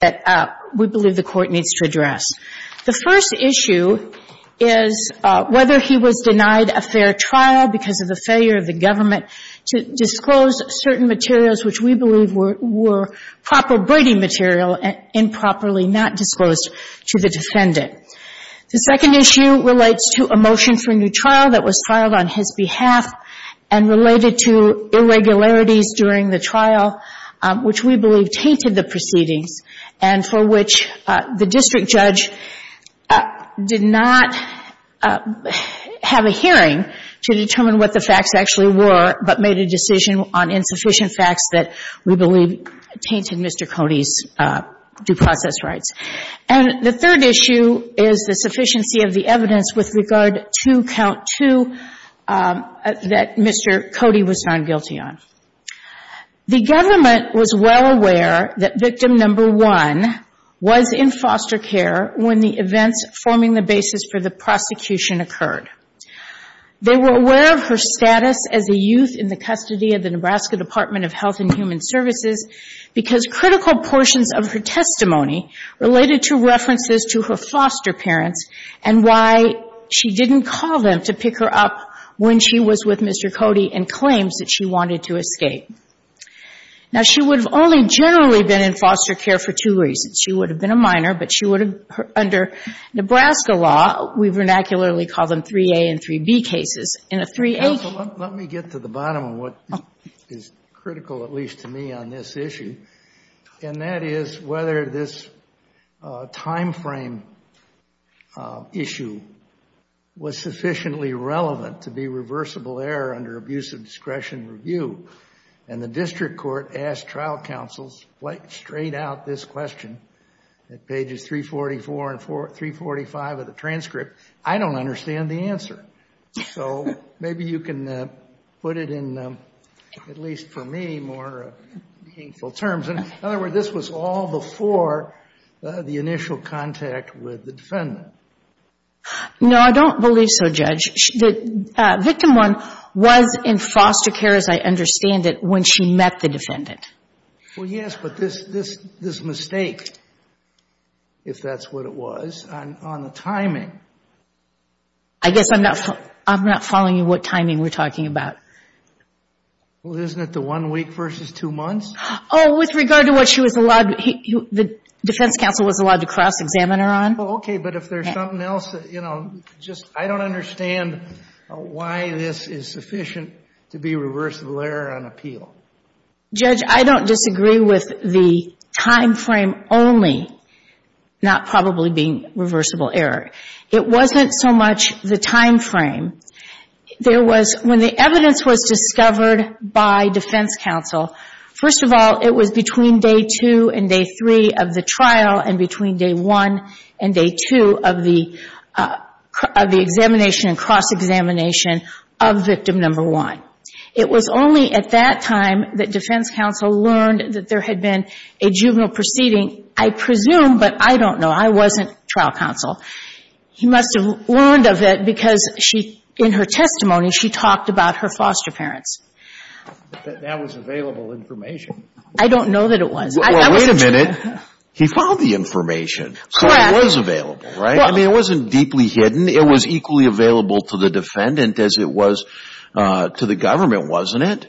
that we believe the Court needs to address. The first issue is whether he was denied a fair trial because of the failure of the government to disclose certain materials which we believe were proper braiding material and improperly not disclosed to the defendant. The second issue relates to a motion for a new trial that was filed on his behalf and for which the district judge did not have a hearing to determine what the facts actually were but made a decision on insufficient facts that we believe tainted Mr. Cody's due process rights. And the third issue is the sufficiency of the evidence with regard to count two that Mr. Cody was found guilty on. The government was well aware that victim number one was in foster care when the events forming the basis for the prosecution occurred. They were aware of her status as a youth in the custody of the Nebraska Department of Health and Human Services because critical portions of her testimony related to references to her foster parents and why she didn't call them to pick her up when she was with Mr. Cody and claims that she wanted to escape. Now, she would have only generally been in foster care for two reasons. She would have been a minor, but she would have, under Nebraska law, we vernacularly call them 3A and 3B cases. In a 3A case ---- Kennedy, counsel, let me get to the bottom of what is critical, at least to me, on this issue, was sufficiently relevant to be reversible error under abuse of discretion review. And the district court asked trial counsels straight out this question at pages 344 and 345 of the transcript, I don't understand the answer. So maybe you can put it in, at least for me, more meaningful terms. In other words, this was all before the initial contact with the defendant. No, I don't believe so, Judge. The victim, one, was in foster care, as I understand it, when she met the defendant. Well, yes, but this mistake, if that's what it was, on the timing ---- I guess I'm not following you what timing we're talking about. Well, isn't it the one week versus two months? Oh, with regard to what she was allowed to ---- the defense counsel was allowed to cross-examine her on. Well, okay, but if there's something else, you know, just, I don't understand why this is sufficient to be reversible error on appeal. Judge, I don't disagree with the timeframe only not probably being reversible error. It wasn't so much the timeframe. There was, when the evidence was discovered by defense counsel, first of all, it was between day two and day three of the trial and between day one and day two of the examination and cross-examination of victim number one. It was only at that time that defense counsel learned that there had been a juvenile proceeding, I presume, but I don't know. I wasn't trial counsel. He must have learned of it because she, in her testimony, she talked about her foster parents. But that was available information. I don't know that it was. Well, wait a minute. He found the information, so it was available, right? I mean, it wasn't deeply hidden. It was equally available to the defendant as it was to the government, wasn't it?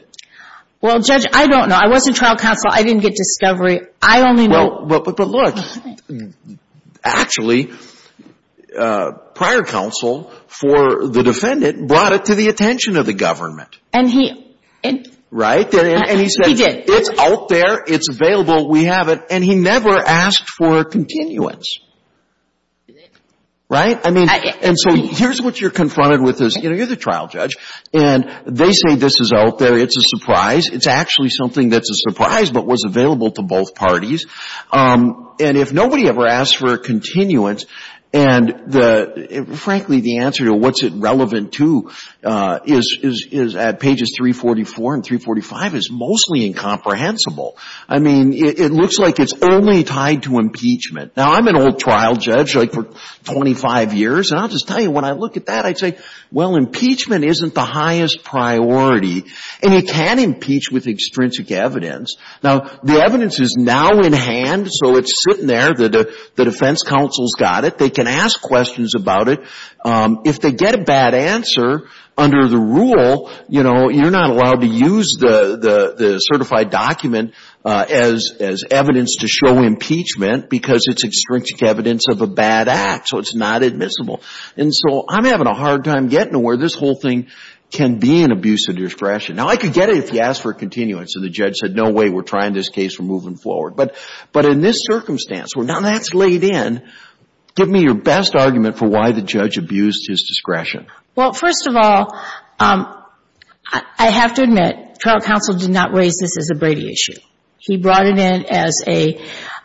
Well, Judge, I don't know. I wasn't trial counsel. I didn't get discovery. I only know But look, actually, prior counsel for the defendant brought it to the attention of the government. And he Right? He did. And he said, it's out there. It's available. We have it. And he never asked for a continuance. Right? I mean, and so here's what you're confronted with. You're the trial judge and they say this is out there. It's a surprise. It's actually something that's a surprise but was available to both parties. And if nobody ever asked for a continuance and the, frankly, the answer to what's it relevant to is at pages 344 and 345 is mostly incomprehensible. I mean, it looks like it's only tied to impeachment. Now, I'm an old trial judge, like, for 25 years. And I'll just tell you, when I look at that, I'd say, well, impeachment isn't the highest priority. And you can impeach with extrinsic evidence. Now, the evidence is now in hand. So it's sitting there. The defense counsel's got it. They can ask questions about it. If they get a bad answer, under the rule, you know, you're not allowed to use the certified document as evidence to show impeachment because it's extrinsic evidence of a bad act. So it's not admissible. And so I'm having a hard time getting to where this whole thing can be an abuse of discretion. Now, I could get it if you asked for a continuance and the judge said, no way, we're trying this case, we're moving forward. But in this circumstance, where now that's laid in, give me your best argument for why the judge abused his discretion. Well, first of all, I have to admit, trial counsel did not raise this as a Brady issue. He brought it in as a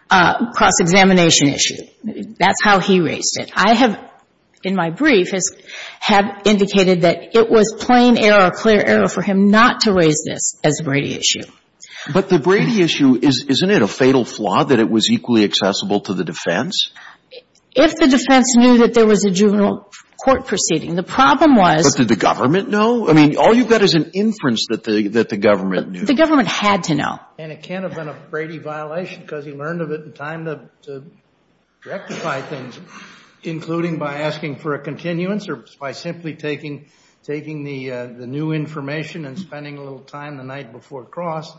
cross-examination issue. That's how he raised it. I have, in my brief, have indicated that it was plain error, clear error for him not to raise this as a Brady issue. But the Brady issue, isn't it a fatal flaw that it was equally accessible to the defense? If the defense knew that there was a juvenile court proceeding, the problem was But did the government know? I mean, all you've got is an inference that the government knew. The government had to know. And it can't have been a Brady violation because he learned of it in time to rectify things, including by asking for a continuance or by simply taking the new information and spending a little time the night before cross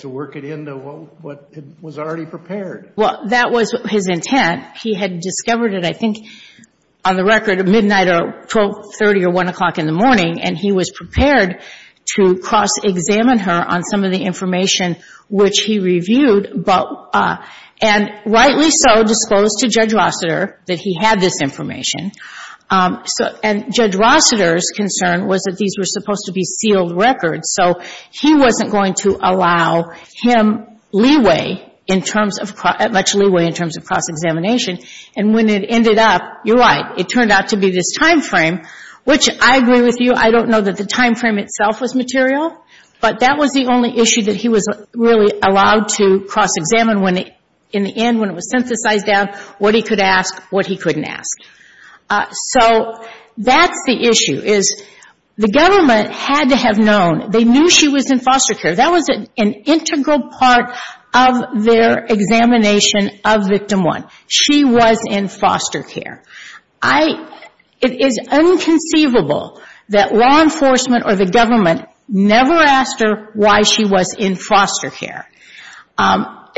to work it into what was already prepared. Well, that was his intent. He had discovered it, I think, on the record at midnight or 1 o'clock in the morning, and he was prepared to cross-examine her on some of the And rightly so disclosed to Judge Rossiter that he had this information. And Judge Rossiter's concern was that these were supposed to be sealed records, so he wasn't going to allow him leeway in terms of cross – much leeway in terms of cross-examination. And when it ended up, you're right, it turned out to be this timeframe, which I agree with you. I don't know that the timeframe itself was material, but that was the only issue that he was really allowed to cross-examine in the end when it was synthesized down, what he could ask, what he couldn't ask. So that's the issue, is the government had to have known. They knew she was in foster care. That was an integral part of their examination of Victim 1. She was in foster care. It is inconceivable that law enforcement or the government never asked her why she was in foster care. And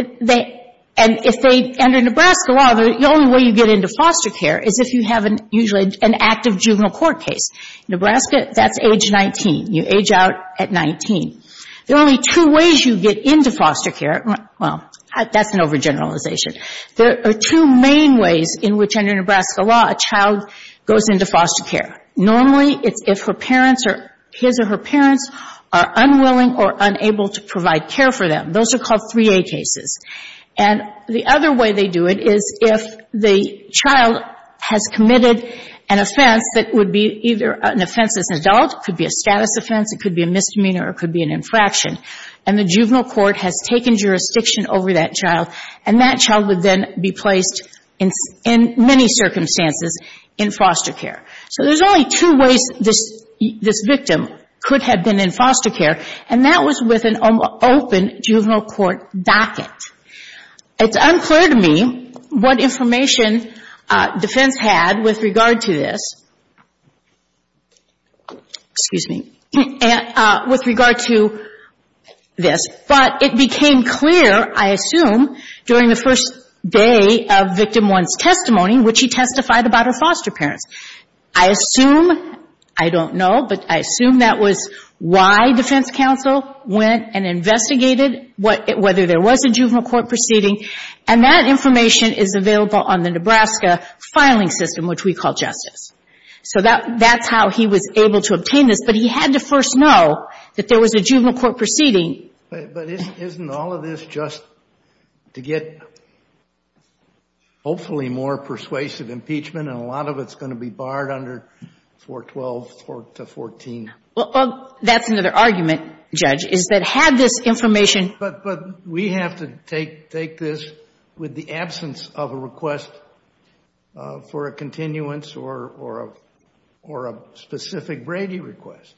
if they – under Nebraska law, the only way you get into foster care is if you have an – usually an active juvenile court case. In Nebraska, that's age 19. You age out at 19. There are only two ways you get into foster care. Well, that's an overgeneralization. There are two main ways in which under Nebraska law a child goes into foster care. Normally it's if her parents or his or her parents are unwilling or unable to provide care for them. Those are called 3A cases. And the other way they do it is if the child has committed an offense that would be either an offense as an adult, could be a status offense, it could be a misdemeanor, or it could be an infraction, and the juvenile court has taken jurisdiction over that child, and that child would then be placed in many circumstances in foster care. So there's only two ways this victim could have been in foster care, and that was with an open juvenile court docket. It's unclear to me what information defense had with regard to this – excuse me – with regard to this, but it became clear, I assume, during the first day of Victim 1's testimony which he testified about her foster parents. I assume, I don't know, but I assume that was why defense counsel went and investigated whether there was a juvenile court proceeding, and that information is available on the Nebraska filing system, which we call Justice. So that's how he was able to obtain this, but he had to first know that there was a juvenile court proceeding. But isn't all of this just to get hopefully more persuasive impeachment, and a lot of it's going to be barred under 412 to 14? Well, that's another argument, Judge, is that had this information But we have to take this with the absence of a request for a continuance or a specific Brady request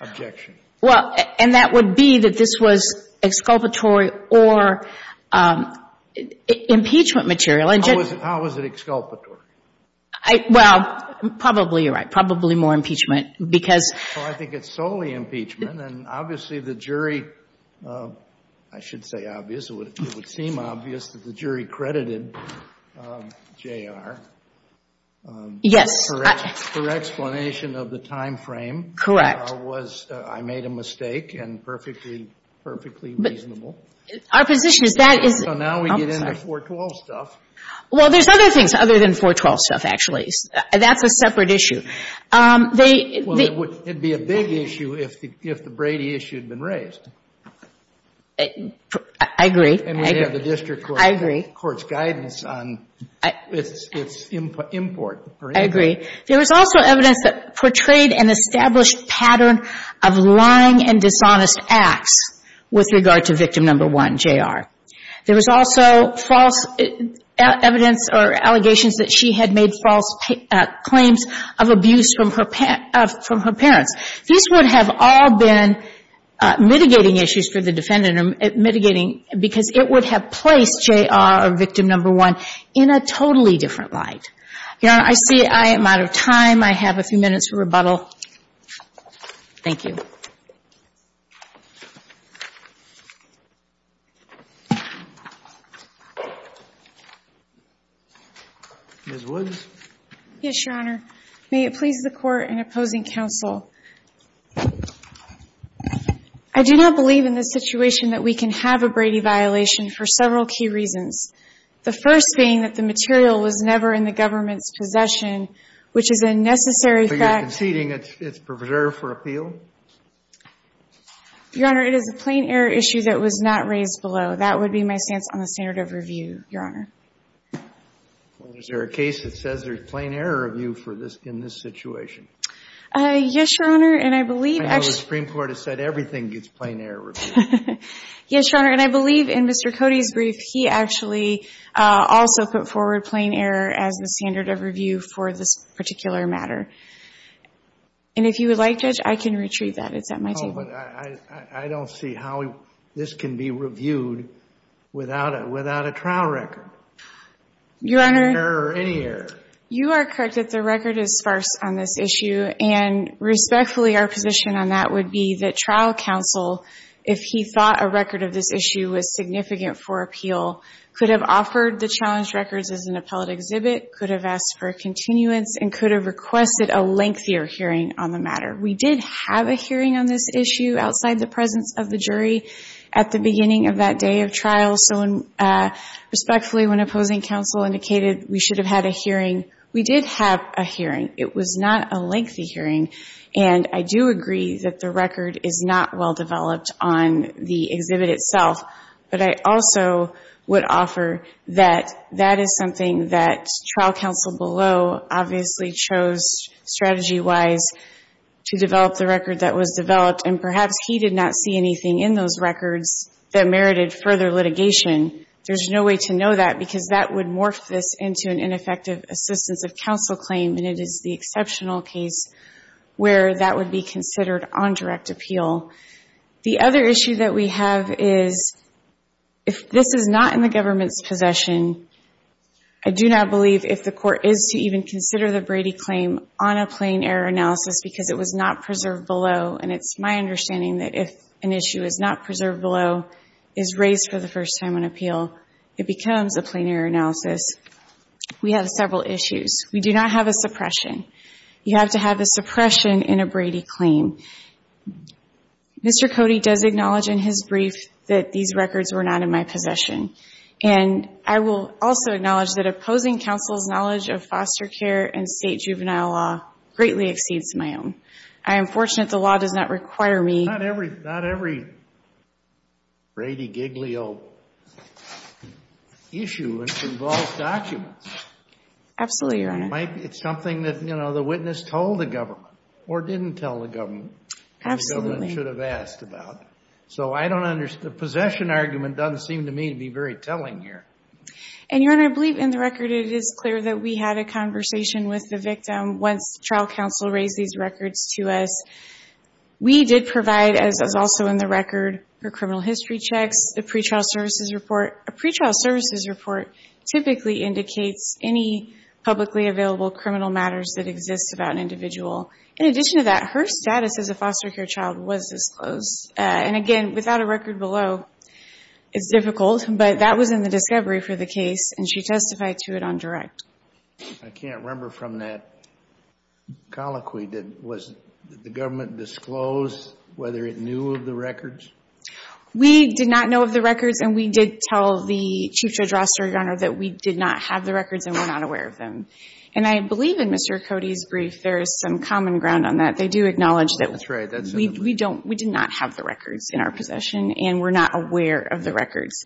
objection. Well, and that would be that this was exculpatory or impeachment material. How was it exculpatory? Well, probably you're right, probably more impeachment, because Well, I think it's solely impeachment, and obviously the jury, I should say obvious, it would seem obvious that the jury credited J.R. Yes. For explanation of the timeframe Correct. I made a mistake and perfectly reasonable. Our position is that is So now we get into 412 stuff. Well, there's other things other than 412 stuff, actually. That's a separate issue. Well, it would be a big issue if the Brady issue had been raised. I agree. And we have the district court's guidance on its import. I agree. There was also evidence that portrayed an established pattern of lying and dishonest acts with regard to victim number one, J.R. There was also false evidence or allegations that she had made false claims of abuse from her parents. These would have all been mitigating issues for the defendant or mitigating because it would have placed J.R. or victim number one in a totally different light. Your Honor, I see I am out of time. I have a few minutes for rebuttal. Thank you. Ms. Woods. Yes, Your Honor. May it please the Court in opposing counsel, I do not believe in this situation that we can have a Brady violation for several key reasons, the first being that the material was never in the government's possession, which is a necessary fact. So you're conceding it's preserved for appeal? Your Honor, it is a plain error issue that was not raised below. That would be my stance on the standard of review, Your Honor. Well, is there a case that says there's plain error review in this situation? Yes, Your Honor, and I believe, actually. I know the Supreme Court has said everything gets plain error review. Yes, Your Honor, and I believe in Mr. Cody's brief, he actually also put forward plain error as the standard of review for this particular matter. And if you would like, Judge, I can retrieve that. It's at my table. Oh, but I don't see how this can be reviewed without a trial record. Your Honor. Any error. You are correct that the record is sparse on this issue, and respectfully, our position on that would be that trial counsel, if he thought a record of this issue was significant for appeal, could have offered the challenged records as an appellate exhibit, could have asked for a continuance, and could have requested a lengthier hearing on the matter. We did have a hearing on this issue outside the presence of the jury at the beginning of that day of trial, so respectfully, when opposing counsel indicated we should have had a hearing, we did have a hearing. It was not a lengthy hearing, and I do agree that the record is not well-developed on the exhibit itself, but I also would offer that that is something that trial counsel below obviously chose strategy-wise to develop the record that was developed, and perhaps he did not see anything in those records that merited further litigation. There's no way to know that because that would morph this into an ineffective assistance of counsel claim, and it is the exceptional case where that would be considered on direct appeal. The other issue that we have is if this is not in the government's possession, I do not believe if the court is to even consider the Brady claim on a plain error analysis because it was not preserved below, and it's my understanding that if an issue is not preserved below, is raised for the first time on appeal, it becomes a plain error analysis. We have several issues. We do not have a suppression. You have to have a suppression in a Brady claim. Mr. Cody does acknowledge in his brief that these records were not in my possession, and I will also acknowledge that opposing counsel's knowledge of foster care and state juvenile law greatly exceeds my own. I am fortunate the law does not require me. Not every Brady giglio issue involves documents. Absolutely, Your Honor. It's something that the witness told the government or didn't tell the government and the government should have asked about. So I don't understand. The possession argument doesn't seem to me to be very telling here. And, Your Honor, I believe in the record it is clear that we had a conversation with the victim. Once trial counsel raised these records to us, we did provide, as also in the record, her criminal history checks, a pretrial services report. A pretrial services report typically indicates any publicly available criminal matters that exist about an individual. In addition to that, her status as a foster care child was disclosed. And, again, without a record below, it's difficult, but that was in the discovery for the case, and she testified to it on direct. I can't remember from that colloquy that the government disclosed whether it knew of the records. We did not know of the records, and we did tell the Chief Judge Ross, Your Honor, that we did not have the records and were not aware of them. And I believe in Mr. Cody's brief there is some common ground on that. They do acknowledge that we did not have the records in our possession and were not aware of the records.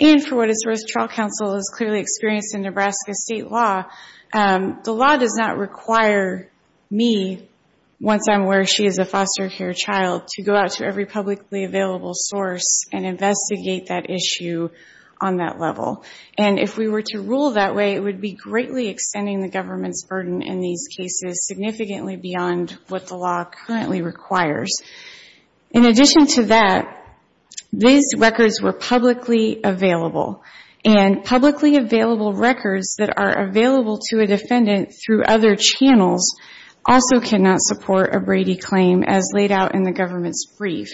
And for what it's worth, trial counsel is clearly experienced in Nebraska state law. The law does not require me, once I'm aware she is a foster care child, to go out to every publicly available source and investigate that issue on that level. And if we were to rule that way, it would be greatly extending the government's burden in these cases significantly beyond what the law currently requires. In addition to that, these records were publicly available, and publicly available records that are available to a defendant through other channels also cannot support a Brady claim as laid out in the government's brief.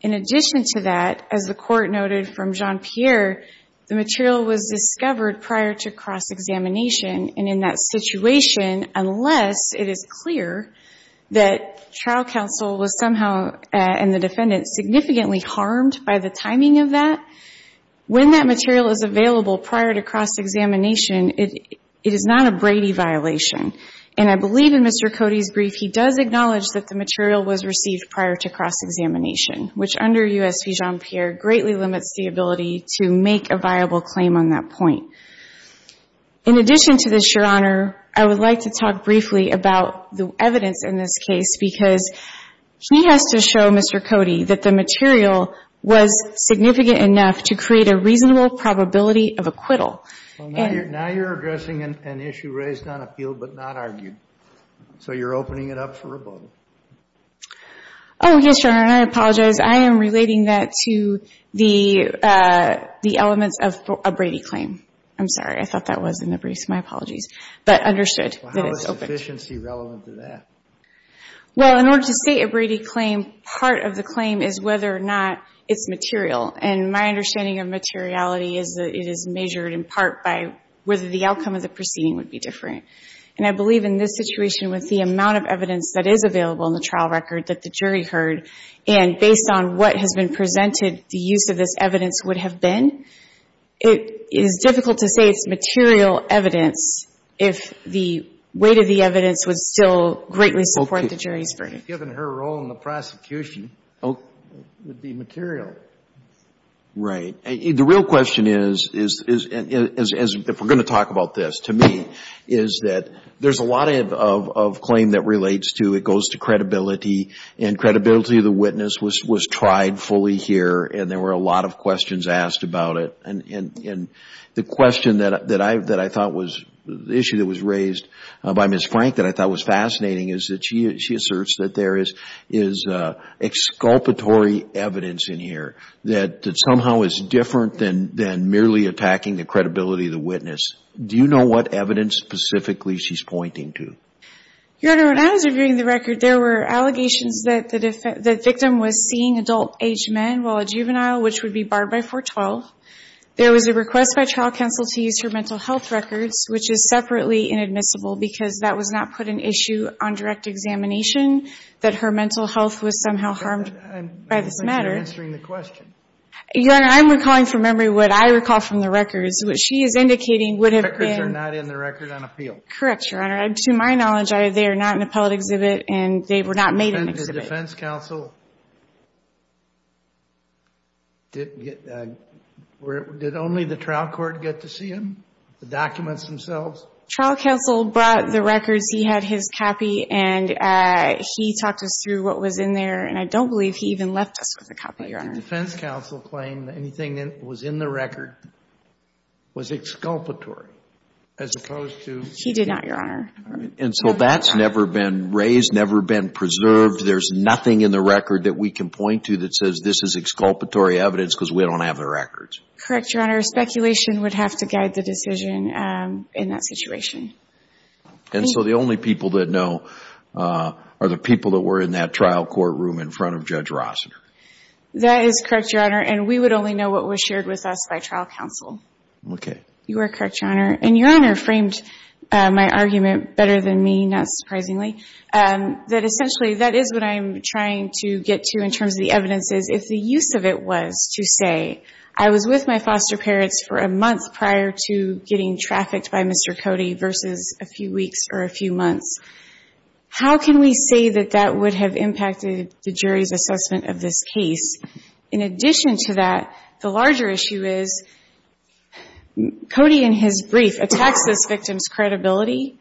In addition to that, as the Court noted from Jean-Pierre, the material was discovered prior to cross-examination, and in that situation, unless it is clear that trial counsel was somehow, and the defendant, significantly harmed by the timing of that, when that material is available prior to cross-examination, it is not a Brady violation. And I believe in Mr. Cody's brief he does acknowledge that the material was received prior to cross-examination, which under U.S. v. Jean-Pierre, greatly limits the ability to make a viable claim on that point. In addition to this, Your Honor, I would like to talk briefly about the evidence in this case, because she has to show Mr. Cody that the material was significant enough to create a reasonable probability of acquittal. Now you're addressing an issue raised on appeal but not argued. So you're opening it up for rebuttal. Oh, yes, Your Honor, and I apologize. I am relating that to the elements of a Brady claim. I'm sorry. I thought that was in the briefs. My apologies. But understood that it's open. Well, how is sufficiency relevant to that? Well, in order to state a Brady claim, part of the claim is whether or not it's material. And my understanding of materiality is that it is measured in part by whether the outcome of the proceeding would be different. And I believe in this situation with the amount of evidence that is available in the trial record that the jury heard, and based on what has been presented, the use of this evidence would have been. It is difficult to say it's material evidence if the weight of the evidence would still greatly support the jury's verdict. Given her role in the prosecution, it would be material. Right. The real question is, if we're going to talk about this, to me, is that there's a lot of claim that relates to credibility and credibility of the witness was tried fully here and there were a lot of questions asked about it. And the question that I thought was, the issue that was raised by Ms. Frank that I thought was fascinating is that she asserts that there is exculpatory evidence in here that somehow is different than merely attacking the credibility of the witness. Do you know what evidence specifically she's pointing to? Your Honor, when I was reviewing the record, there were allegations that the victim was seeing adult-aged men while a juvenile, which would be barred by 412. There was a request by trial counsel to use her mental health records, which is separately inadmissible because that was not put in issue on direct examination that her mental health was somehow harmed by this matter. I'm not answering the question. Your Honor, I'm recalling from memory what I recall from the records, which she is indicating would have been. The records are not in the record on appeal. Correct, Your Honor. To my knowledge, they are not in the appellate exhibit, and they were not made in the exhibit. The defense counsel, did only the trial court get to see them, the documents themselves? Trial counsel brought the records. He had his copy, and he talked us through what was in there, and I don't believe he even left us with a copy, Your Honor. The defense counsel claimed that anything that was in the record was exculpatory as opposed to. He did not, Your Honor. And so that's never been raised, never been preserved. There's nothing in the record that we can point to that says this is exculpatory evidence because we don't have the records. Correct, Your Honor. Speculation would have to guide the decision in that situation. And so the only people that know are the people that were in that trial courtroom in front of Judge Rossiter. That is correct, Your Honor, and we would only know what was shared with us by trial counsel. Okay. You are correct, Your Honor. And Your Honor framed my argument better than me, not surprisingly, that essentially that is what I'm trying to get to in terms of the evidences. If the use of it was to say I was with my foster parents for a month prior to getting trafficked by Mr. Cody versus a few weeks or a few months, how can we say that that would have impacted the jury's assessment of this case? In addition to that, the larger issue is Cody in his brief attacks this victim's credibility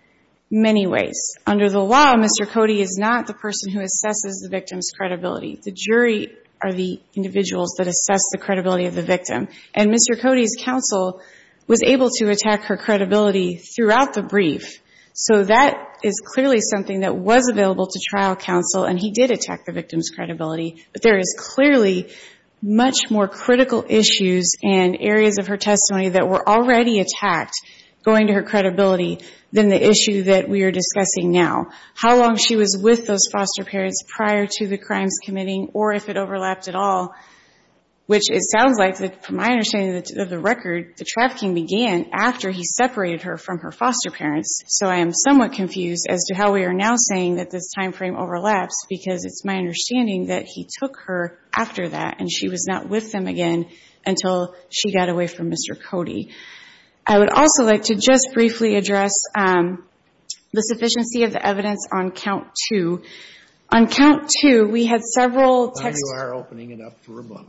many ways. Under the law, Mr. Cody is not the person who assesses the victim's credibility. The jury are the individuals that assess the credibility of the victim. And Mr. Cody's counsel was able to attack her credibility throughout the brief. So that is clearly something that was available to trial counsel, and he did attack the victim's credibility. But there is clearly much more critical issues and areas of her testimony that were already attacked going to her credibility than the issue that we are discussing now, how long she was with those foster parents prior to the crimes committing or if it overlapped at all, which it sounds like, from my understanding of the record, the trafficking began after he separated her from her foster parents. So I am somewhat confused as to how we are now saying that this time frame overlaps because it's my understanding that he took her after that and she was not with them again until she got away from Mr. Cody. I would also like to just briefly address the sufficiency of the evidence on count two. On count two, we had several texts. You are opening it up for a moment.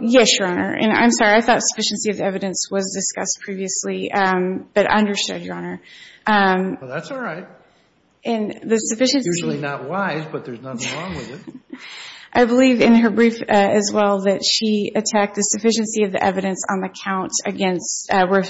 Yes, Your Honor, and I'm sorry. I thought sufficiency of evidence was discussed previously, but I understood, Your Honor. That's all right. It's usually not wise, but there's nothing wrong with it. I believe in her brief as well that she attacked the sufficiency of the evidence on the count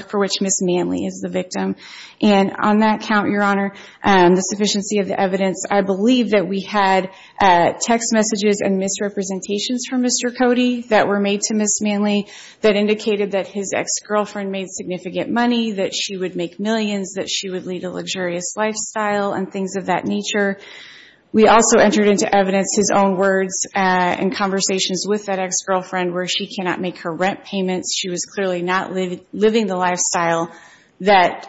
for which Ms. Manley is the victim. And on that count, Your Honor, the sufficiency of the evidence, I believe that we had text messages and misrepresentations from Mr. Cody that were made to Ms. Manley that indicated that his ex-girlfriend made significant money, that she would make millions, that she would lead a luxurious lifestyle and things of that nature. We also entered into evidence his own words in conversations with that ex-girlfriend where she cannot make her rent payments. She was clearly not living the lifestyle that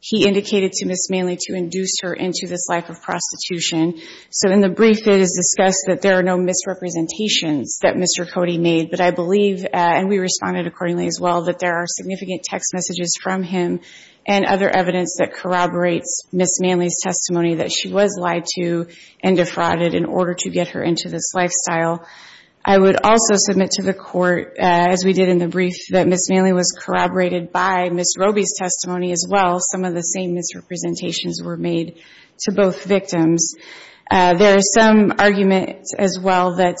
he indicated to Ms. Manley to induce her into this life of prostitution. So in the brief, it is discussed that there are no misrepresentations that Mr. Cody made, but I believe, and we responded accordingly as well, that there are significant text messages from him and other evidence that corroborates Ms. Manley's testimony that she was lied to and defrauded in order to get her into this lifestyle. I would also submit to the Court, as we did in the brief, that Ms. Manley was corroborated by Ms. Roby's testimony as well. Some of the same misrepresentations were made to both victims. There is some argument as well that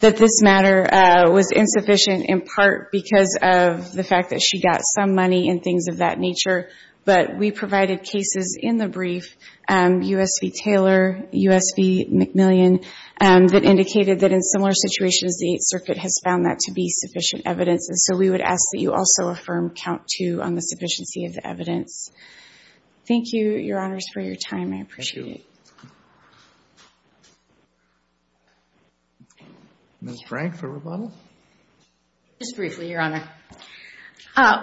this matter was insufficient in part because of the fact that she got some money and things of that nature, but we provided cases in the brief, U.S. v. Taylor, U.S. v. McMillian, that indicated that in similar situations, the Eighth Circuit has found that to be sufficient evidence, and so we would ask that you also affirm count two on the sufficiency of the evidence. Thank you, Your Honors, for your time. I appreciate it. Ms. Frank for rebuttal? Just briefly, Your Honor.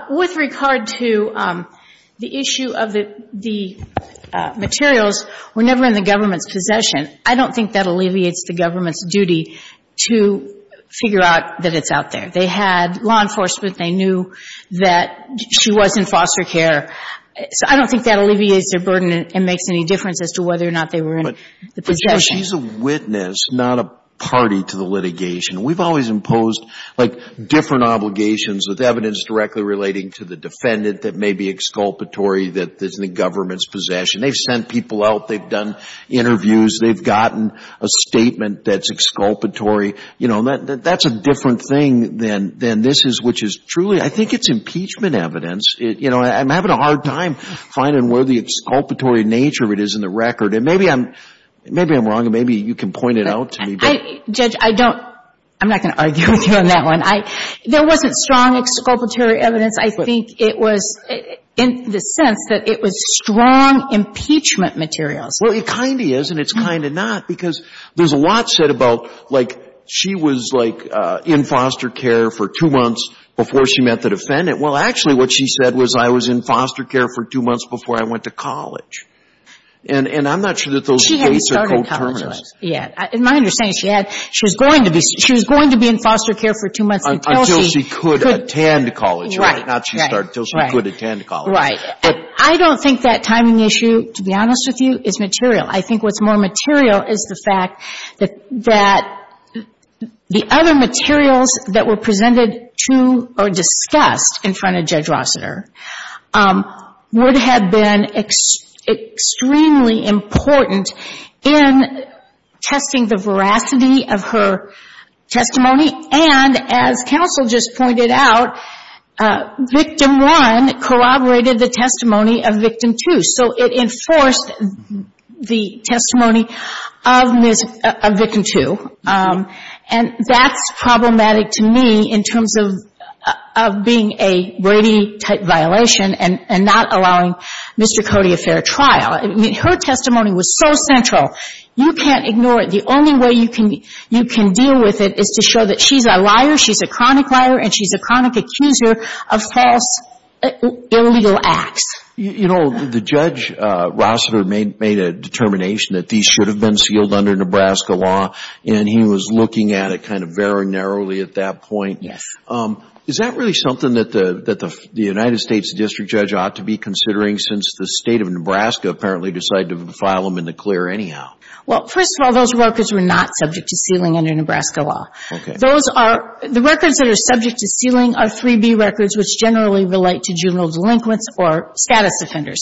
With regard to the issue of the materials, we're never in the government's possession. I don't think that alleviates the government's duty to figure out that it's out there. They had law enforcement. They knew that she was in foster care. So I don't think that alleviates their burden and makes any difference as to whether or not they were in the possession. But, you know, she's a witness, not a party to the litigation. We've always imposed, like, different obligations with evidence directly relating to the defendant that may be exculpatory that is in the government's possession. They've sent people out. They've done interviews. They've gotten a statement that's exculpatory. You know, that's a different thing than this is, which is truly. I think it's impeachment evidence. You know, I'm having a hard time finding where the exculpatory nature of it is in the record. And maybe I'm wrong and maybe you can point it out to me. Judge, I don't. I'm not going to argue with you on that one. There wasn't strong exculpatory evidence. I think it was in the sense that it was strong impeachment materials. Well, it kind of is and it's kind of not because there's a lot said about, like, she was, like, in foster care for two months before she met the defendant. Well, actually what she said was, I was in foster care for two months before I went to college. And I'm not sure that those dates are co-terminous. She hadn't started college yet. In my understanding, she was going to be in foster care for two months until she could attend college. Right. Right. Right. I don't think that timing issue, to be honest with you, is material. I think what's more material is the fact that the other materials that were presented to or discussed in front of Judge Rossiter would have been extremely important in testing the veracity of her testimony. And, as counsel just pointed out, victim one corroborated the testimony of victim two. So it enforced the testimony of victim two. And that's problematic to me in terms of being a Brady-type violation and not allowing Mr. Cody a fair trial. I mean, her testimony was so central. You can't ignore it. The only way you can deal with it is to show that she's a liar, she's a chronic liar, and she's a chronic accuser of false illegal acts. You know, the Judge Rossiter made a determination that these should have been sealed under Nebraska law, and he was looking at it kind of very narrowly at that point. Yes. Is that really something that the United States District Judge ought to be considering since the State of Nebraska apparently decided to file them in the clear anyhow? Well, first of all, those records were not subject to sealing under Nebraska law. Okay. The records that are subject to sealing are 3B records, which generally relate to juvenile delinquents or status offenders.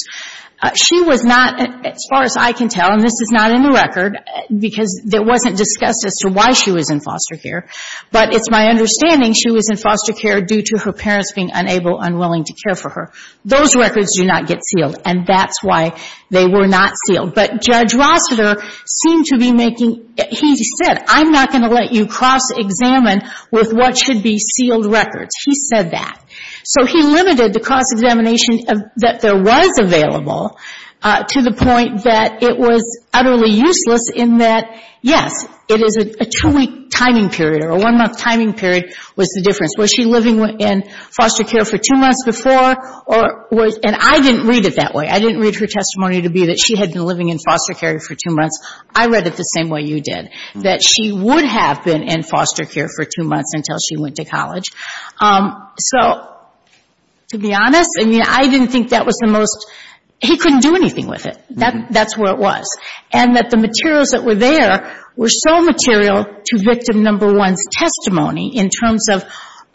She was not, as far as I can tell, and this is not in the record because it wasn't discussed as to why she was in foster care, but it's my understanding she was in foster care due to her parents being unable, unwilling to care for her. Those records do not get sealed, and that's why they were not sealed. But Judge Rossiter seemed to be making he said, I'm not going to let you cross-examine with what should be sealed records. He said that. So he limited the cross-examination that there was available to the point that it was utterly useless in that, yes, it is a two-week timing period or a one-month timing period was the difference. Was she living in foster care for two months before? And I didn't read it that way. I didn't read her testimony to be that she had been living in foster care for two months. I read it the same way you did, that she would have been in foster care for two months until she went to college. So to be honest, I mean, I didn't think that was the most he couldn't do anything with it. That's where it was. And that the materials that were there were so material to victim number one's testimony in terms of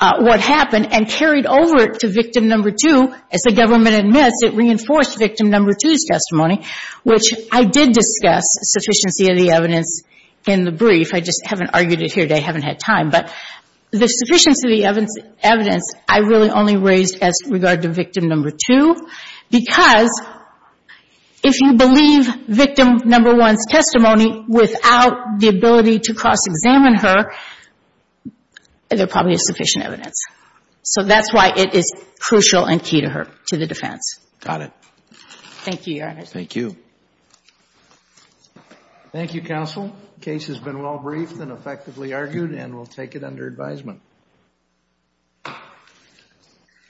what happened and carried over to victim number two. And the fact that I was able to cross-examine her testimony, which I did discuss sufficiency of the evidence in the brief. I just haven't argued it here today. I haven't had time. But the sufficiency of the evidence I really only raised as regard to victim number two because if you believe victim number one's testimony without the ability to cross-examine her, there probably is sufficient evidence. So that's why it is crucial and key to her, to the defense. Got it. Thank you, Your Honor. Thank you. Thank you, counsel. Case has been well briefed and effectively argued, and we'll take it under advisement.